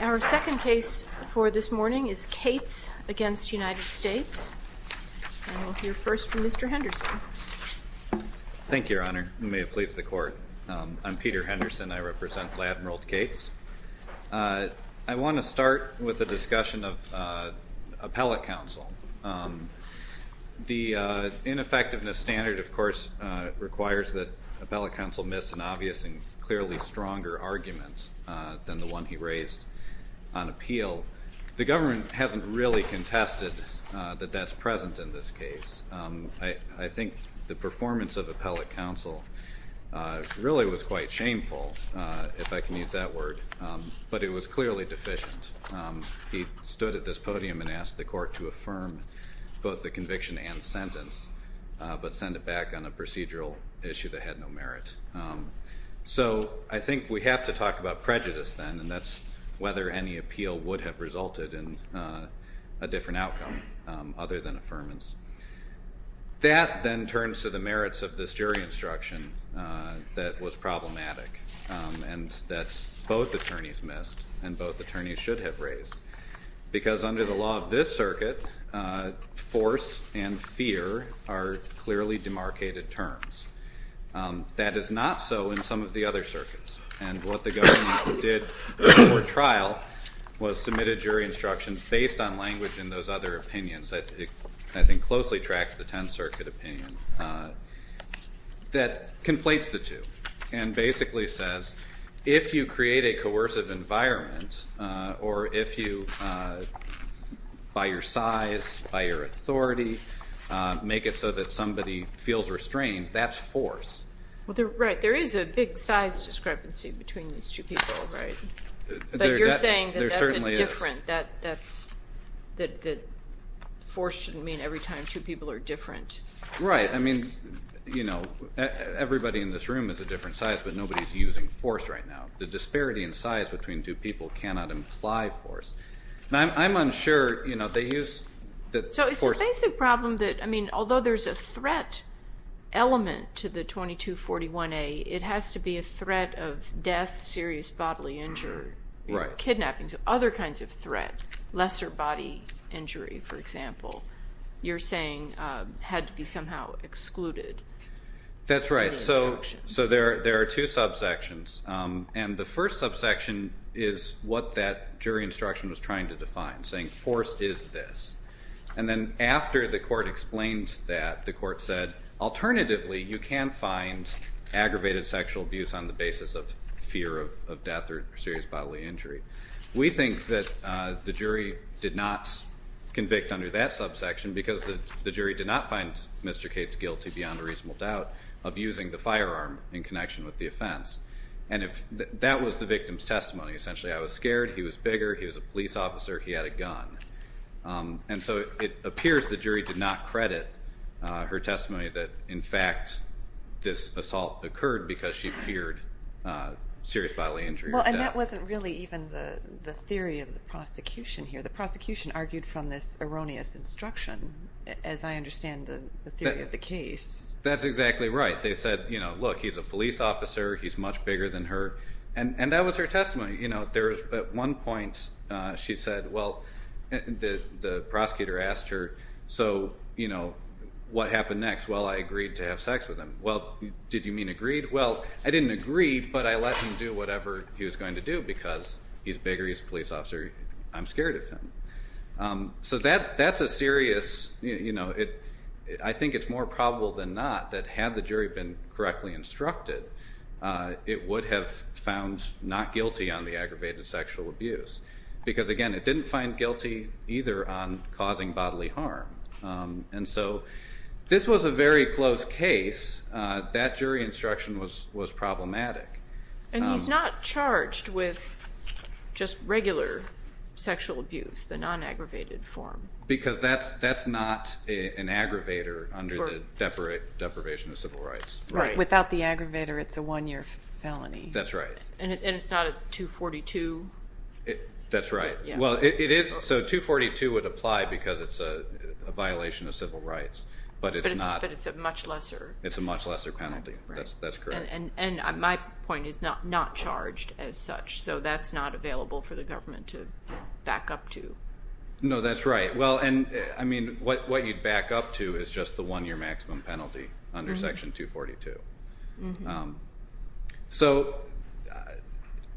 Our second case for this morning is Cates v. United States, and we'll hear first from Mr. Henderson. Thank you, Your Honor. May it please the Court. I'm Peter Henderson. I represent Vladimirld Cates. I want to start with a discussion of appellate counsel. The ineffectiveness standard, of course, requires that appellate counsel miss an obvious and clearly stronger argument than the one he raised on appeal. The government hasn't really contested that that's present in this case. I think the performance of appellate counsel really was quite shameful, if I can use that word, but it was clearly deficient. He stood at this podium and asked the Court to affirm both the conviction and sentence, but send it back on a procedural issue that had no merit. So I think we have to talk about prejudice then, and that's whether any appeal would have resulted in a different outcome other than affirmance. That then turns to the merits of this jury instruction that was problematic and that both attorneys missed and both attorneys should have raised. Because under the law of this circuit, force and fear are clearly demarcated terms. That is not so in some of the other circuits. And what the government did before trial was submit a jury instruction based on language in those other opinions that I think closely tracks the Tenth Circuit opinion that conflates the two and basically says, if you create a coercive environment or if you, by your size, by your authority, make it so that somebody feels restrained, that's force. Right. There is a big size discrepancy between these two people, right? But you're saying that that's indifferent. That force shouldn't mean every time two people are different sizes. Right. I mean, you know, everybody in this room is a different size, but nobody's using force right now. The disparity in size between two people cannot imply force. I'm unsure, you know, they use the force. So it's a basic problem that, I mean, although there's a threat element to the 2241A, it has to be a threat of death, serious bodily injury, kidnapping, other kinds of threat, lesser body injury, for example. You're saying it had to be somehow excluded. That's right. So there are two subsections. And the first subsection is what that jury instruction was trying to define, saying force is this. And then after the court explained that, the court said, alternatively, you can find aggravated sexual abuse on the basis of fear of death or serious bodily injury. We think that the jury did not convict under that subsection because the jury did not find Mr. Cates guilty beyond a reasonable doubt of using the firearm in connection with the offense. And that was the victim's testimony. Essentially, I was scared. He was bigger. He was a police officer. He had a gun. And so it appears the jury did not credit her testimony that, in fact, this assault occurred because she feared serious bodily injury or death. Well, and that wasn't really even the theory of the prosecution here. The prosecution argued from this erroneous instruction, as I understand the theory of the case. That's exactly right. They said, look, he's a police officer. He's much bigger than her. And that was her testimony. At one point, she said, well, the prosecutor asked her, so what happened next? Well, I agreed to have sex with him. Well, did you mean agreed? Well, I didn't agree, but I let him do whatever he was going to do because he's bigger. He's a police officer. I'm scared of him. So that's a serious, I think it's more probable than not that had the jury been correctly instructed, it would have found not guilty on the aggravated sexual abuse. Because again, it didn't find guilty either on causing bodily harm. And so this was a very close case. That jury instruction was problematic. And he's not charged with just regular sexual abuse, the non-aggravated form. Because that's not an aggravator under the Deprivation of Civil Rights. Without the aggravator, it's a one-year felony. That's right. And it's not a 242? That's right. Well, it is. So 242 would apply because it's a violation of civil rights. But it's not. But it's a much lesser. It's a much lesser penalty. Right. That's correct. And my point is not charged as such. So that's not available for the government to back up to. No, that's right. Well, and I mean, what you'd back up to is just the one-year maximum penalty under Section 242. So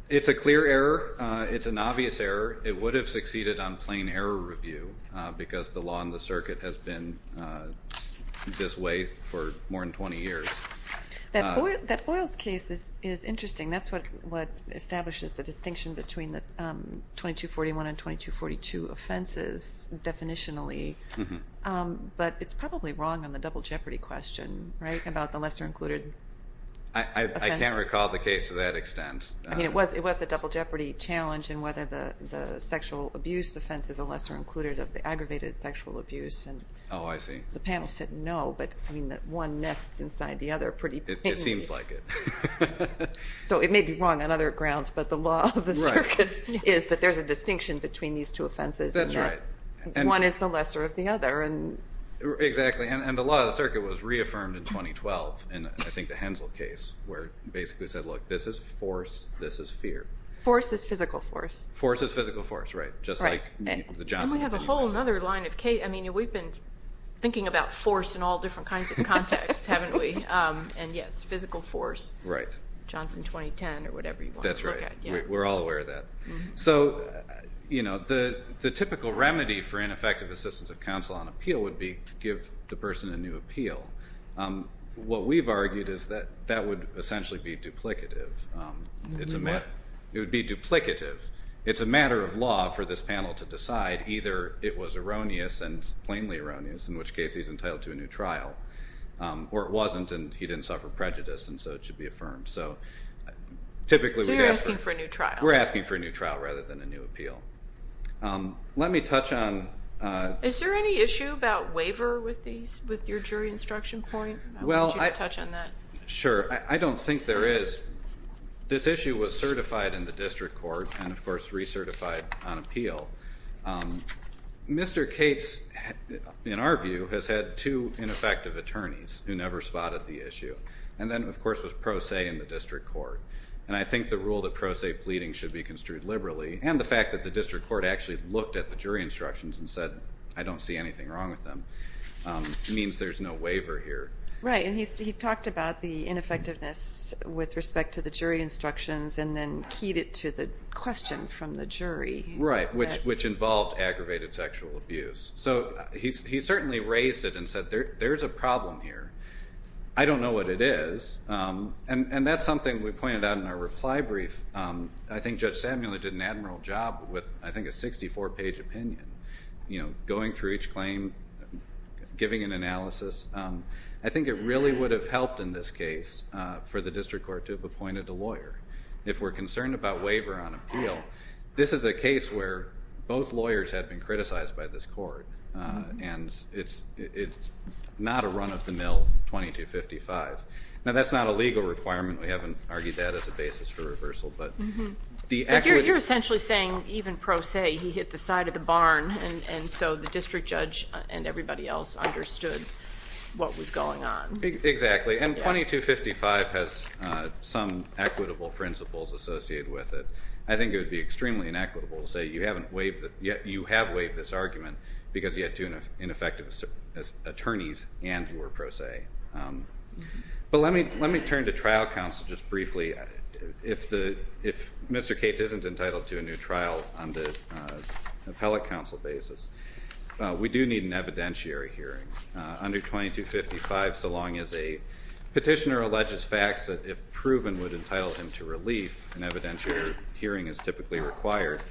it's a clear error. It's an obvious error. It would have succeeded on plain error review because the law and the circuit has been this way for more than 20 years. That Oyls case is interesting. That's what establishes the distinction between the 2241 and 2242 offenses, definitionally. But it's probably wrong on the double jeopardy question, right, about the lesser included offense? I can't recall the case to that extent. I mean, it was a double jeopardy challenge in whether the sexual abuse offense is a lesser included of the aggravated sexual abuse. Oh, I see. The panel said no, but I mean, one nests inside the other pretty thinly. It seems like it. So it may be wrong on other grounds, but the law of the circuit is that there's a distinction between these two offenses and that one is the lesser of the other. Exactly. And the law of the circuit was reaffirmed in 2012 in, I think, the Hensel case where it basically said, look, this is force, this is fear. Force is physical force. Force is physical force, right, just like the Johnson case. And we have a whole other line of case. I mean, we've been thinking about force in all different kinds of contexts, haven't we? And yes, physical force, Johnson 2010 or whatever you want to look at. That's right. We're all aware of that. So, you know, the typical remedy for ineffective assistance of counsel on appeal would be give the person a new appeal. What we've argued is that that would essentially be duplicative. It would be duplicative. It's a matter of law for this panel to decide. Either it was erroneous and plainly erroneous, in which case he's entitled to a new trial, or it wasn't and he didn't suffer prejudice and so it should be affirmed. So typically we'd ask for... So you're asking for a new trial. We're asking for a new trial rather than a new appeal. Let me touch on... Is there any issue about waiver with these, with your jury instruction point? I want you to touch on that. Sure. I don't think there is. This issue was certified in the district court and, of course, recertified on appeal. Mr. Cates, in our view, has had two ineffective attorneys who never spotted the issue. And then, of course, was pro se in the district court. And I think the rule that pro se pleading should be construed liberally, and the fact that the district court actually looked at the jury instructions and said, I don't see anything wrong with them, means there's no waiver here. Right. And he talked about the ineffectiveness with respect to the jury instructions and then to the question from the jury. Right. Which involved aggravated sexual abuse. So he certainly raised it and said, there's a problem here. I don't know what it is. And that's something we pointed out in our reply brief. I think Judge Samuel did an admiral job with, I think, a 64-page opinion, going through each claim, giving an analysis. I think it really would have helped in this case for the district court to have appointed a lawyer. If we're concerned about waiver on appeal, this is a case where both lawyers have been criticized by this court. And it's not a run-of-the-mill 2255. Now, that's not a legal requirement. We haven't argued that as a basis for reversal. But the equity. But you're essentially saying, even pro se, he hit the side of the barn, and so the district judge and everybody else understood what was going on. Exactly. And 2255 has some equitable principles associated with it. I think it would be extremely inequitable to say, you have waived this argument because you had two ineffective attorneys and you were pro se. But let me turn to trial counsel just briefly. If Mr. Cates isn't entitled to a new trial on the appellate counsel basis, we do need an evidentiary hearing under 2255. So long as a petitioner alleges facts that, if proven, would entitle him to relief, an evidentiary hearing is typically required.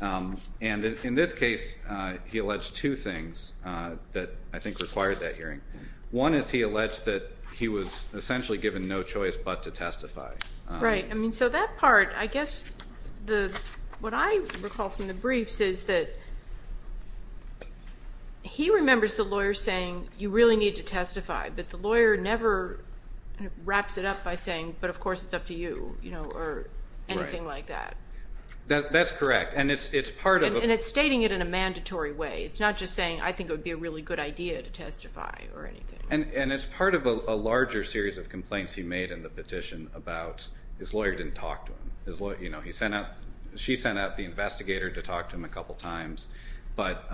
And in this case, he alleged two things that I think required that hearing. One is he alleged that he was essentially given no choice but to testify. Right. I mean, so that part, I guess what I recall from the briefs is that he remembers the lawyer saying, you really need to testify, but the lawyer never wraps it up by saying, but of course it's up to you, or anything like that. That's correct. And it's part of a- And it's stating it in a mandatory way. It's not just saying, I think it would be a really good idea to testify or anything. And it's part of a larger series of complaints he made in the petition about his lawyer didn't talk to him. She sent out the investigator to talk to him a couple times, but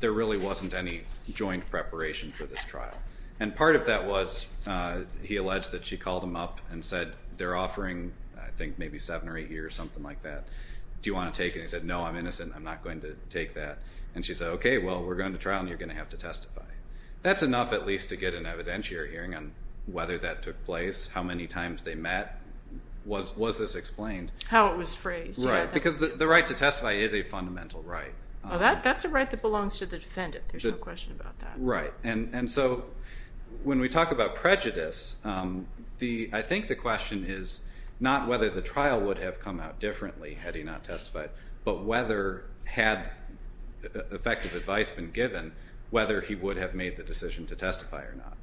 there really wasn't any joint preparation for this trial. And part of that was, he alleged that she called him up and said, they're offering, I think maybe seven or eight years, something like that. Do you want to take it? He said, no, I'm innocent. I'm not going to take that. And she said, okay, well, we're going to trial and you're going to have to testify. That's enough at least to get an evidentiary hearing on whether that took place, how many times they met. Was this explained? How it was phrased. Right. Because the right to testify is a fundamental right. That's a right that belongs to the defendant. There's no question about that. Right. And so when we talk about prejudice, I think the question is not whether the trial would have come out differently had he not testified, but whether had effective advice been given, whether he would have made the decision to testify or not.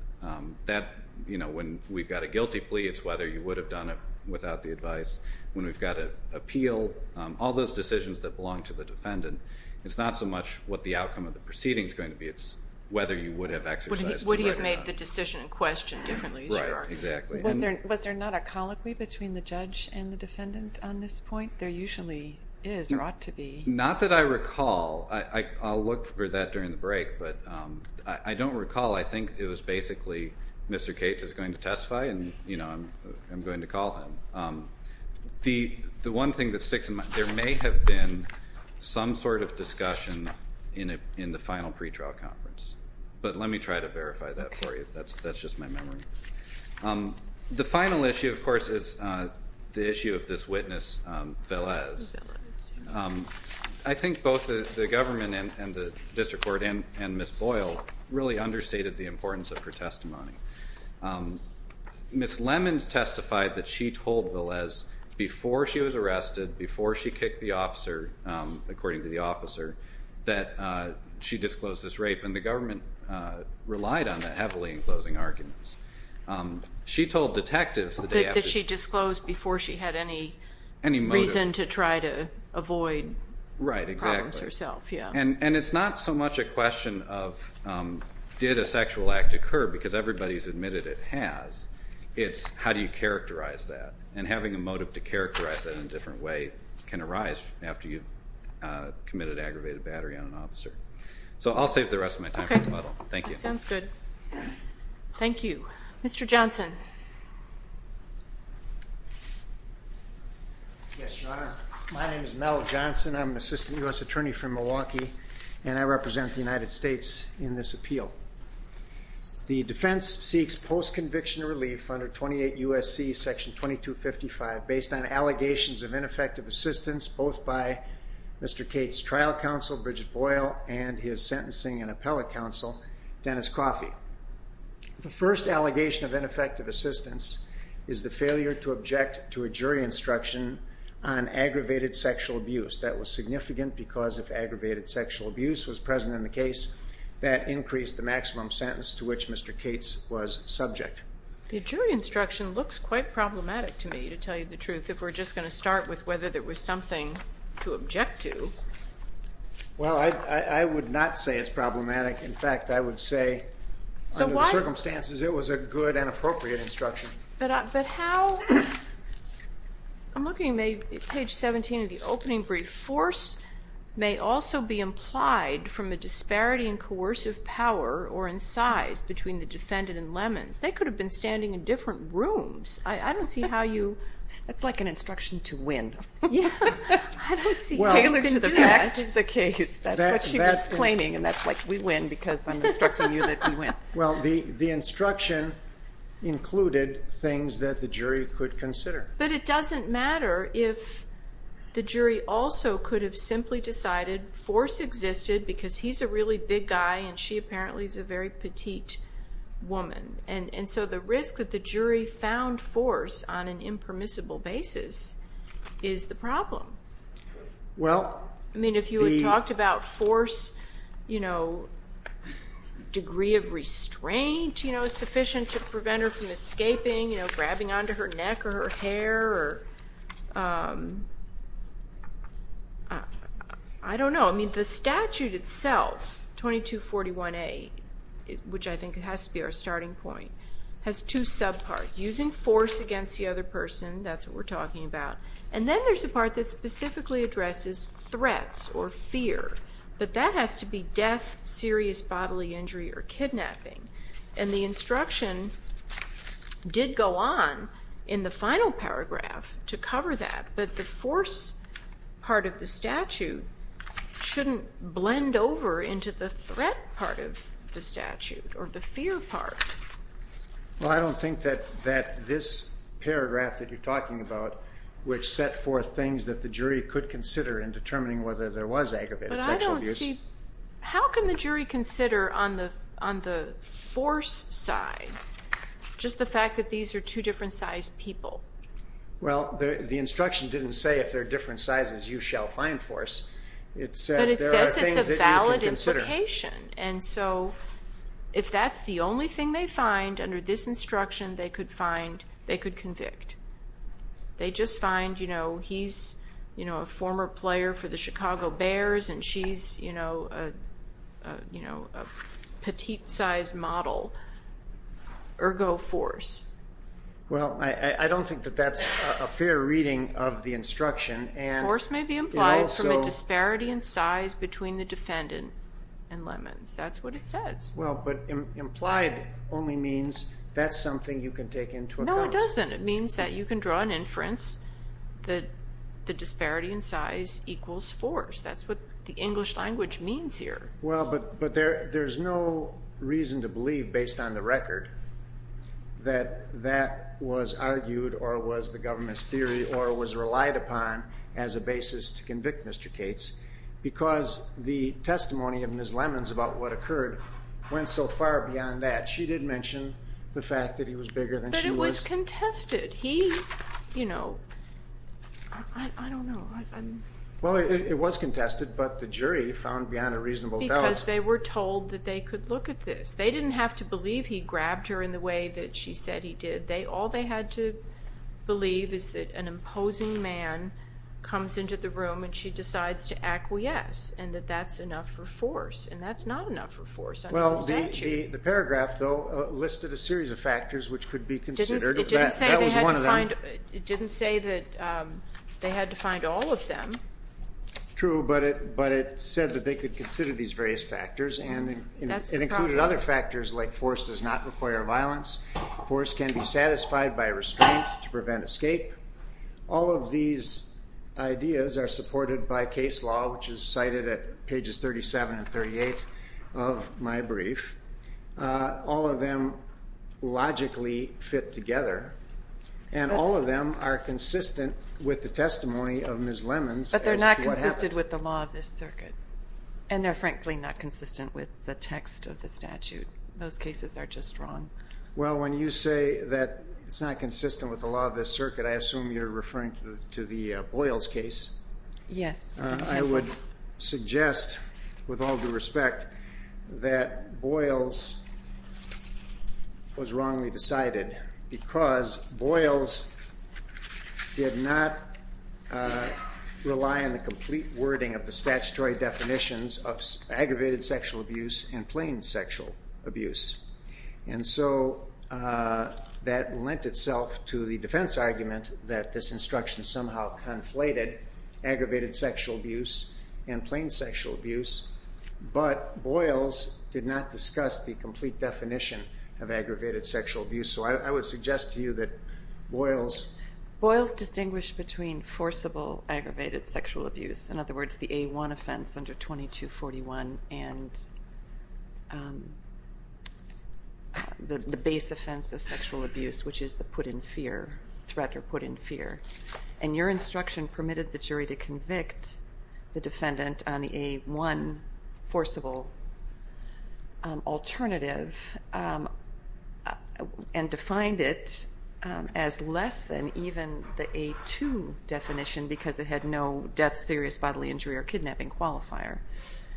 When we've got a guilty plea, it's whether you would have done it without the advice. When we've got an appeal, all those decisions that belong to the defendant, it's not so much what the outcome of the proceeding is going to be, it's whether you would have exercised the right or not. Would he have made the decision in question differently? Right. Exactly. Was there not a colloquy between the judge and the defendant on this point? There usually is or ought to be. Not that I recall. I'll look for that during the break, but I don't recall. I think it was basically, Mr. Cates is going to testify and I'm going to call him. The one thing that sticks in mind, there may have been some sort of discussion in the final pretrial conference, but let me try to verify that for you. That's just my memory. The final issue, of course, is the issue of this witness, Velez. I think both the government and the district court and Ms. Boyle really understated the importance of her testimony. Ms. Lemons testified that she told Velez, before she was arrested, before she kicked the officer, according to the officer, that she disclosed this rape. And the government relied on that heavily in closing arguments. She told detectives that she disclosed before she had any reason to try to avoid problems herself. And it's not so much a question of, did a sexual act occur? Because everybody's admitted it has. It's how do you characterize that? And having a motive to characterize that in a different way can arise after you've committed aggravated battery on an officer. So I'll save the rest of my time for the model. Thank you. That sounds good. Thank you. Mr. Johnson. Yes, Your Honor. My name is Mel Johnson. I'm an assistant U.S. attorney from Milwaukee, and I represent the United States in this appeal. The defense seeks post-conviction relief under 28 U.S.C. section 2255, based on allegations of ineffective assistance, both by Mr. Cates' trial counsel, Bridget Boyle, and his sentencing and appellate counsel, Dennis Coffey. The first allegation of ineffective assistance is the failure to object to a jury instruction on aggravated sexual abuse that was significant because if aggravated sexual abuse was present in the case, that increased the maximum sentence to which Mr. Cates was subject. The jury instruction looks quite problematic to me, to tell you the truth, if we're just going to start with whether there was something to object to. Well, I would not say it's problematic. In fact, I would say under the circumstances, it was a good and appropriate instruction. But how, I'm looking at page 17 of the opening brief, force may also be implied from a disparity in coercive power or in size between the defendant and Lemons. They could have been standing in different rooms. I don't see how you. That's like an instruction to win. Yeah. I don't see. Well. Tailored to the facts of the case. That's what she was claiming. And that's like, we win because I'm instructing you that we win. Well, the instruction included things that the jury could consider. But it doesn't matter if the jury also could have simply decided force existed because he's a really big guy and she apparently is a very petite woman. And so the risk that the jury found force on an impermissible basis is the problem. Well. I mean, if you had talked about force, you know, degree of restraint, you know, sufficient to prevent her from escaping, you know, grabbing onto her neck or her hair or, I don't know. I mean, the statute itself, 2241A, which I think it has to be our starting point, has two subparts, using force against the other person. That's what we're talking about. And then there's a part that specifically addresses threats or fear, but that has to be death, serious bodily injury or kidnapping. And the instruction did go on in the final paragraph to cover that, but the force part of the statute shouldn't blend over into the threat part of the statute or the fear part. Well, I don't think that this paragraph that you're talking about, which set forth things that the jury could consider in determining whether there was aggravated sexual abuse. How can the jury consider on the force side just the fact that these are two different sized people? Well, the instruction didn't say if they're different sizes, you shall find force. It said there are things that you can consider. But it says it's a valid implication. And so if that's the only thing they find under this instruction, they could find, they could convict. They just find, you know, he's, you know, a former player for the Chicago Bears and she's, you know, a petite-sized model, ergo force. Well, I don't think that that's a fair reading of the instruction. Force may be implied from a disparity in size between the defendant and Lemons. That's what it says. Well, but implied only means that's something you can take into account. No, it doesn't. It means that you can draw an inference that the disparity in size equals force. That's what the English language means here. Well, but there's no reason to believe, based on the record, that that was argued or was the government's theory or was relied upon as a basis to convict Mr. Cates because the testimony of Ms. Lemons about what occurred went so far beyond that. She did mention the fact that he was bigger than she was. But it was contested. He, you know, I don't know. Well, it was contested, but the jury found beyond a reasonable doubt. Because they were told that they could look at this. They didn't have to believe he grabbed her in the way that she said he did. All they had to believe is that an imposing man comes into the room and she decides to acquiesce and that that's enough for force. And that's not enough for force under the statute. Well, the paragraph, though, listed a series of factors which could be considered. That was one of them. And it didn't say that they had to find all of them. True, but it said that they could consider these various factors and it included other factors like force does not require violence. Force can be satisfied by restraint to prevent escape. All of these ideas are supported by case law, which is cited at pages 37 and 38 of my brief. All of them logically fit together. And all of them are consistent with the testimony of Ms. Lemons as to what happened. But they're not consistent with the law of this circuit. And they're frankly not consistent with the text of the statute. Those cases are just wrong. Well, when you say that it's not consistent with the law of this circuit, I assume you're referring to the Boyles case. Yes. I would suggest, with all due respect, that Boyles was wrongly decided because Boyles did not rely on the complete wording of the statutory definitions of aggravated sexual abuse and plain sexual abuse. And so that lent itself to the defense argument that this instruction somehow conflated aggravated sexual abuse and plain sexual abuse. But Boyles did not discuss the complete definition of aggravated sexual abuse. So I would suggest to you that Boyles... Boyles distinguished between forcible aggravated sexual abuse, in other words, the A1 offense under 2241 and the base offense of sexual abuse, which is the put in fear, threat or put in fear. And your instruction permitted the jury to convict the defendant on the A1 forcible alternative and defined it as less than even the A2 definition because it had no death, serious bodily injury or kidnapping qualifier.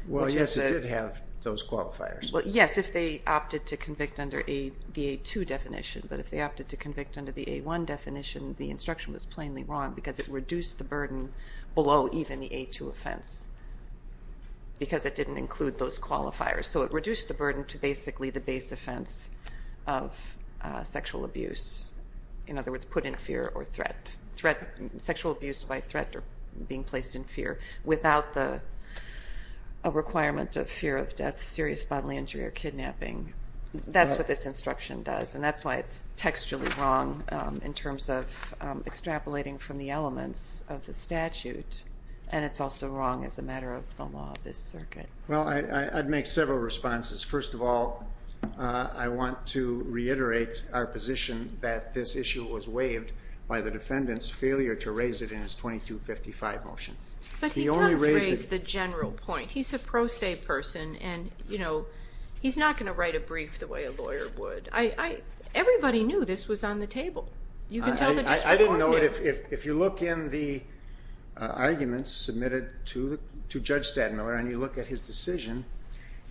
Well, yes, it did have those qualifiers. Well, yes, if they opted to convict under the A2 definition, but if they opted to convict under the A1 definition, the instruction was plainly wrong because it reduced the burden below even the A2 offense because it didn't include those qualifiers. So it reduced the burden to basically the base offense of sexual abuse, in other words, put in fear or threat, sexual abuse by threat or being placed in fear without the requirement of fear of death, serious bodily injury or kidnapping. That's what this instruction does. And that's why it's textually wrong in terms of extrapolating from the elements of the statute. And it's also wrong as a matter of the law of this circuit. Well, I'd make several responses. First of all, I want to reiterate our position that this issue was waived by the defendant's failure to raise it in his 2255 motion. But he does raise the general point. He's a pro se person and he's not going to write a brief the way a lawyer would. Everybody knew this was on the table. You can tell the district court knew. I didn't know it. If you look in the arguments submitted to Judge Stadmiller and you look at his decision,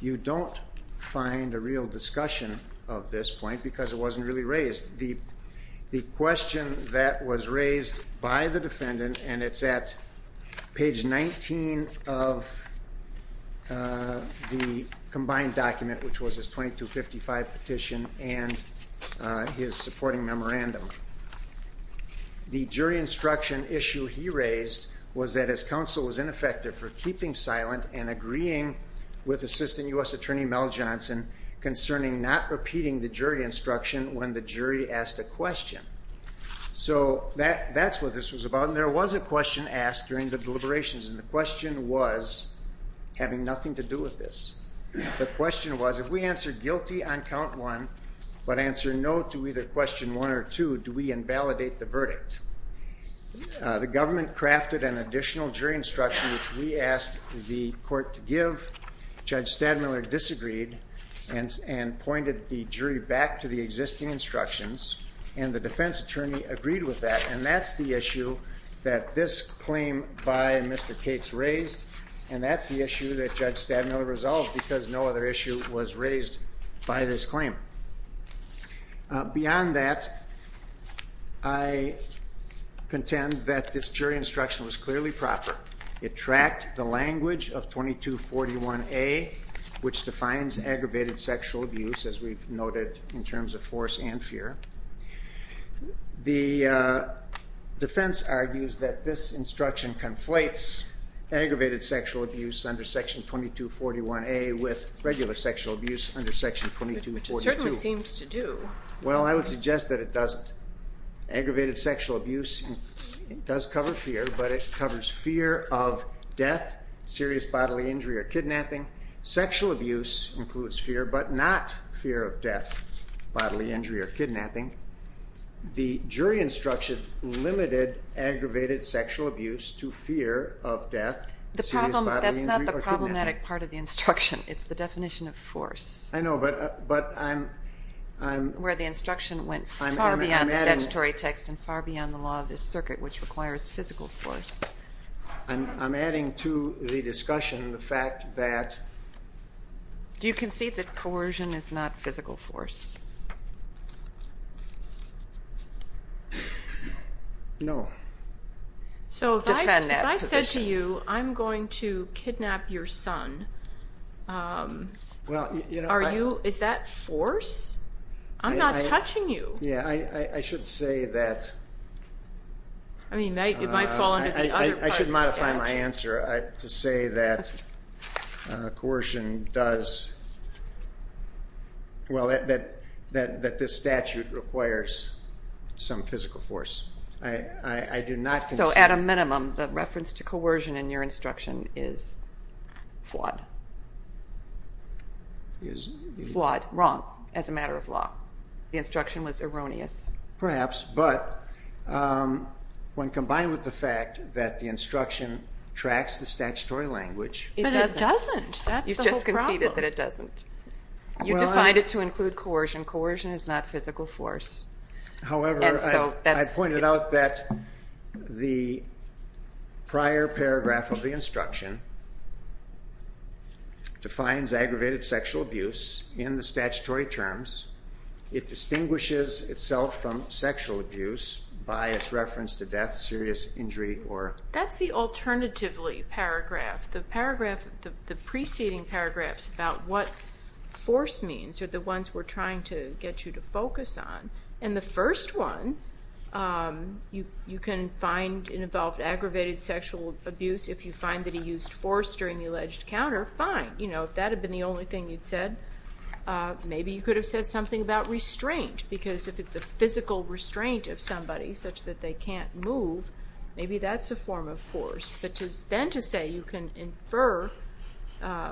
you don't find a real discussion of this point because it wasn't really raised. The question that was raised by the defendant, and it's at page 19 of the combined document, which was his 2255 petition and his supporting memorandum. The jury instruction issue he raised was that his counsel was ineffective for keeping silent and agreeing with Assistant U.S. Attorney Mel Johnson concerning not repeating the jury instruction when the jury asked a question. So that's what this was about. And there was a question asked during the deliberations. And the question was having nothing to do with this. The question was, if we answer guilty on count one, but answer no to either question one or two, do we invalidate the verdict? The government crafted an additional jury instruction, which we asked the court to give. Judge Stadmiller disagreed and pointed the jury back to the existing instructions. And the defense attorney agreed with that. And that's the issue that this claim by Mr. Cates raised. And that's the issue that Judge Stadmiller resolved, because no other issue was raised by this claim. Beyond that, I contend that this jury instruction was clearly proper. It tracked the language of 2241A, which defines aggravated sexual abuse, as we've noted in terms of force and fear. The defense argues that this instruction conflates aggravated sexual abuse under section 2241A with regular sexual abuse under section 2242. Which it certainly seems to do. Well, I would suggest that it doesn't. Aggravated sexual abuse does cover fear, but it covers fear of death, serious bodily injury or kidnapping. Sexual abuse includes fear, but not fear of death, bodily injury or kidnapping. The jury instruction limited aggravated sexual abuse to fear of death, serious bodily injury or kidnapping. That's not the problematic part of the instruction. It's the definition of force, where the instruction went far beyond the statutory text and far beyond the law of this circuit, which requires physical force. I'm adding to the discussion the fact that... Do you concede that coercion is not physical force? No. So, if I said to you, I'm going to kidnap your son, is that force? I'm not touching you. Yeah, I should say that... I should modify my answer to say that coercion does... Well, that this statute requires some physical force. I do not... So, at a minimum, the reference to coercion in your instruction is flawed. Is... Flawed, wrong, as a matter of law. The instruction was erroneous. Perhaps, but when combined with the fact that the instruction tracks the statutory language... But it doesn't. That's the whole problem. You just conceded that it doesn't. You defined it to include coercion. Coercion is not physical force. However, I pointed out that the prior paragraph of the instruction defines aggravated sexual abuse in the statutory terms. It distinguishes itself from sexual abuse by its reference to death, serious injury, or... That's the alternatively paragraph. The preceding paragraphs about what force means are the ones we're trying to get you to focus on. And the first one, you can find it involved aggravated sexual abuse if you find that he used force during the alleged counter. Fine. But, you know, if that had been the only thing you'd said, maybe you could have said something about restraint. Because if it's a physical restraint of somebody, such that they can't move, maybe that's a form of force. But then to say you can infer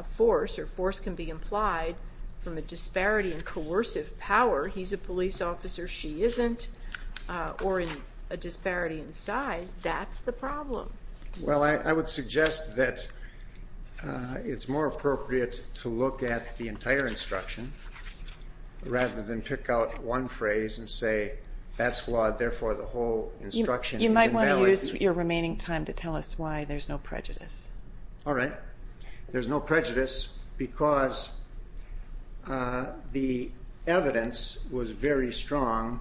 force, or force can be implied from a disparity in coercive power, he's a police officer, she isn't, or a disparity in size, that's the problem. Well, I would suggest that it's more appropriate to look at the entire instruction rather than pick out one phrase and say that's flawed, therefore the whole instruction is invalid. You might want to use your remaining time to tell us why there's no prejudice. All right. There's no prejudice because the evidence was very strong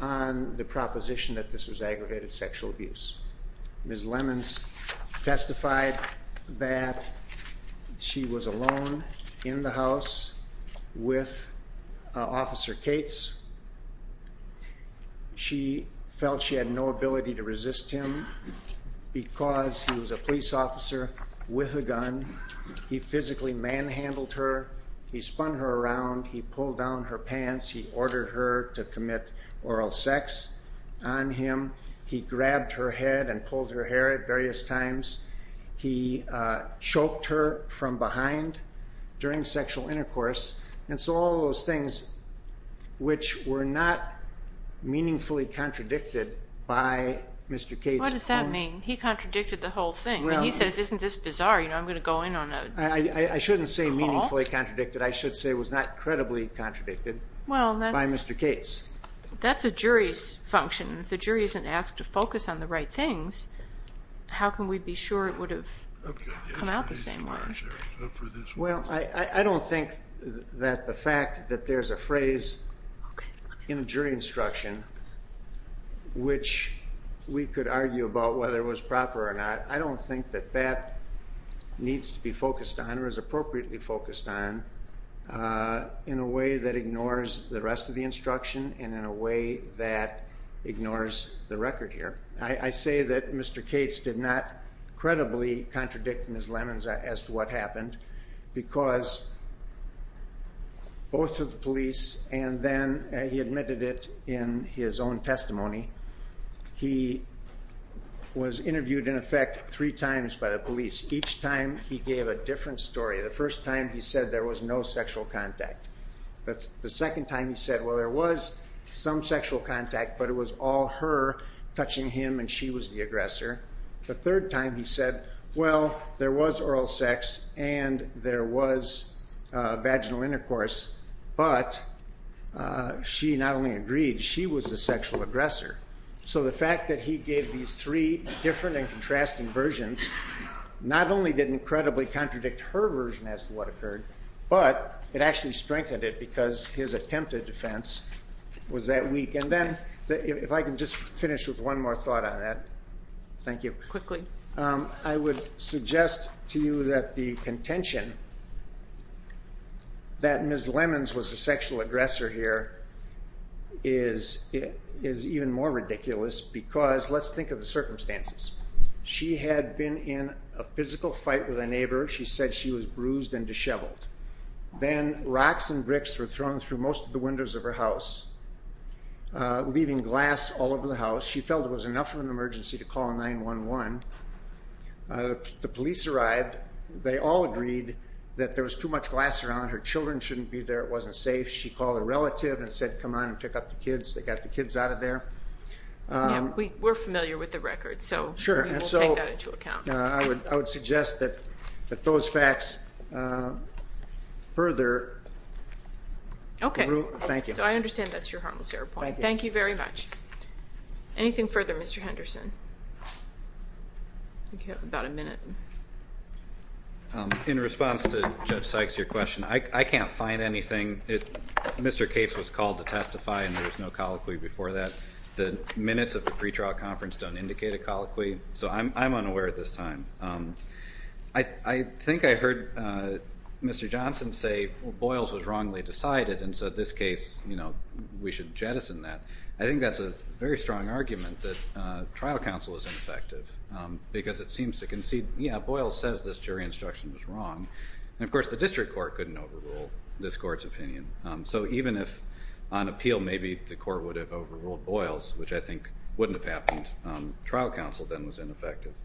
on the proposition that this was aggravated sexual abuse. Ms. Lemons testified that she was alone in the house with Officer Cates. She felt she had no ability to resist him because he was a police officer with a gun. He physically manhandled her. He spun her around. He pulled down her pants. He ordered her to commit oral sex on him. He grabbed her head and pulled her hair at various times. He choked her from behind during sexual intercourse. And so all of those things which were not meaningfully contradicted by Mr. Cates. What does that mean? He contradicted the whole thing. He says isn't this bizarre? I'm going to go in on a call. I shouldn't say meaningfully contradicted. I should say it was not credibly contradicted by Mr. Cates. That's a jury's function. If the jury isn't asked to focus on the right things, how can we be sure it would have come out the same way? Well, I don't think that the fact that there's a phrase in a jury instruction which we could argue about whether it was proper or not, I don't think that that needs to be focused on or is appropriately focused on in a way that ignores the rest of the instruction and in a way that ignores the record here. I say that Mr. Cates did not credibly contradict Ms. Lemons as to what happened because both of the police and then he admitted it in his own testimony, he was interviewed in effect three times by the police. Each time he gave a different story. The first time he said there was no sexual contact. The second time he said, well, there was some sexual contact, but it was all her touching him and she was the aggressor. The third time he said, well, there was oral sex and there was vaginal intercourse, but she not only agreed, she was the sexual aggressor. So the fact that he gave these three different and contrasting versions not only didn't credibly contradict her version as to what occurred, but it actually strengthened it because his attempt at defense was that weak. And then if I can just finish with one more thought on that. Thank you. Quickly. I would suggest to you that the contention that Ms. Lemons was the sexual aggressor here is even more ridiculous because let's think of the circumstances. She had been in a physical fight with a neighbor. She said she was bruised and disheveled. Then rocks and bricks were thrown through most of the windows of her house, leaving glass all over the house. She felt it was enough of an emergency to call 911. The police arrived. They all agreed that there was too much glass around. Her children shouldn't be there. It wasn't safe. She called a relative and said, come on and pick up the kids. They got the kids out of there. We're familiar with the record, so we'll take that into account. I would suggest that those facts further. Okay. Thank you. So I understand that's your harmless error point. Thank you. Thank you very much. Anything further, Mr. Henderson? I think you have about a minute. In response to Judge Sykes' question, I can't find anything. Mr. Cates was called to testify and there was no colloquy before that. The minutes of the pretrial conference don't indicate a colloquy, so I'm unaware at this time. I think I heard Mr. Johnson say Boyles was wrongly decided, and so in this case we should jettison that. I think that's a very strong argument that trial counsel is ineffective because it seems to concede, yeah, Boyles says this jury instruction was wrong. And, of course, the district court couldn't overrule this court's opinion. So even if on appeal maybe the court would have overruled Boyles, which I think wouldn't have happened, trial counsel then was ineffective.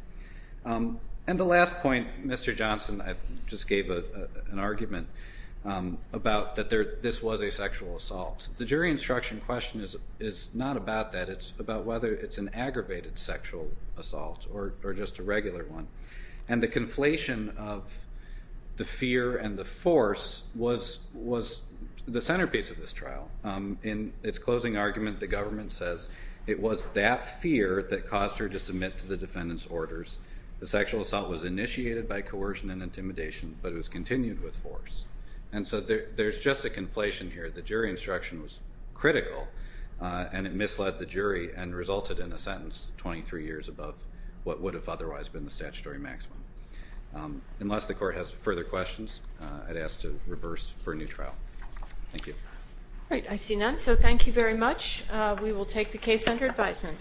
And the last point, Mr. Johnson, I just gave an argument about that this was a sexual assault. The jury instruction question is not about that. It's about whether it's an aggravated sexual assault or just a regular one. And the conflation of the fear and the force was the centerpiece of this trial. In its closing argument, the government says it was that fear that caused her to submit to the defendant's orders. The sexual assault was initiated by coercion and intimidation, but it was continued with force. And so there's just a conflation here. The jury instruction was critical, and it misled the jury and resulted in a sentence 23 years above what would have otherwise been the statutory maximum. Unless the court has further questions, I'd ask to reverse for a new trial. Thank you. All right. I see none, so thank you very much. We will take the case under advisement.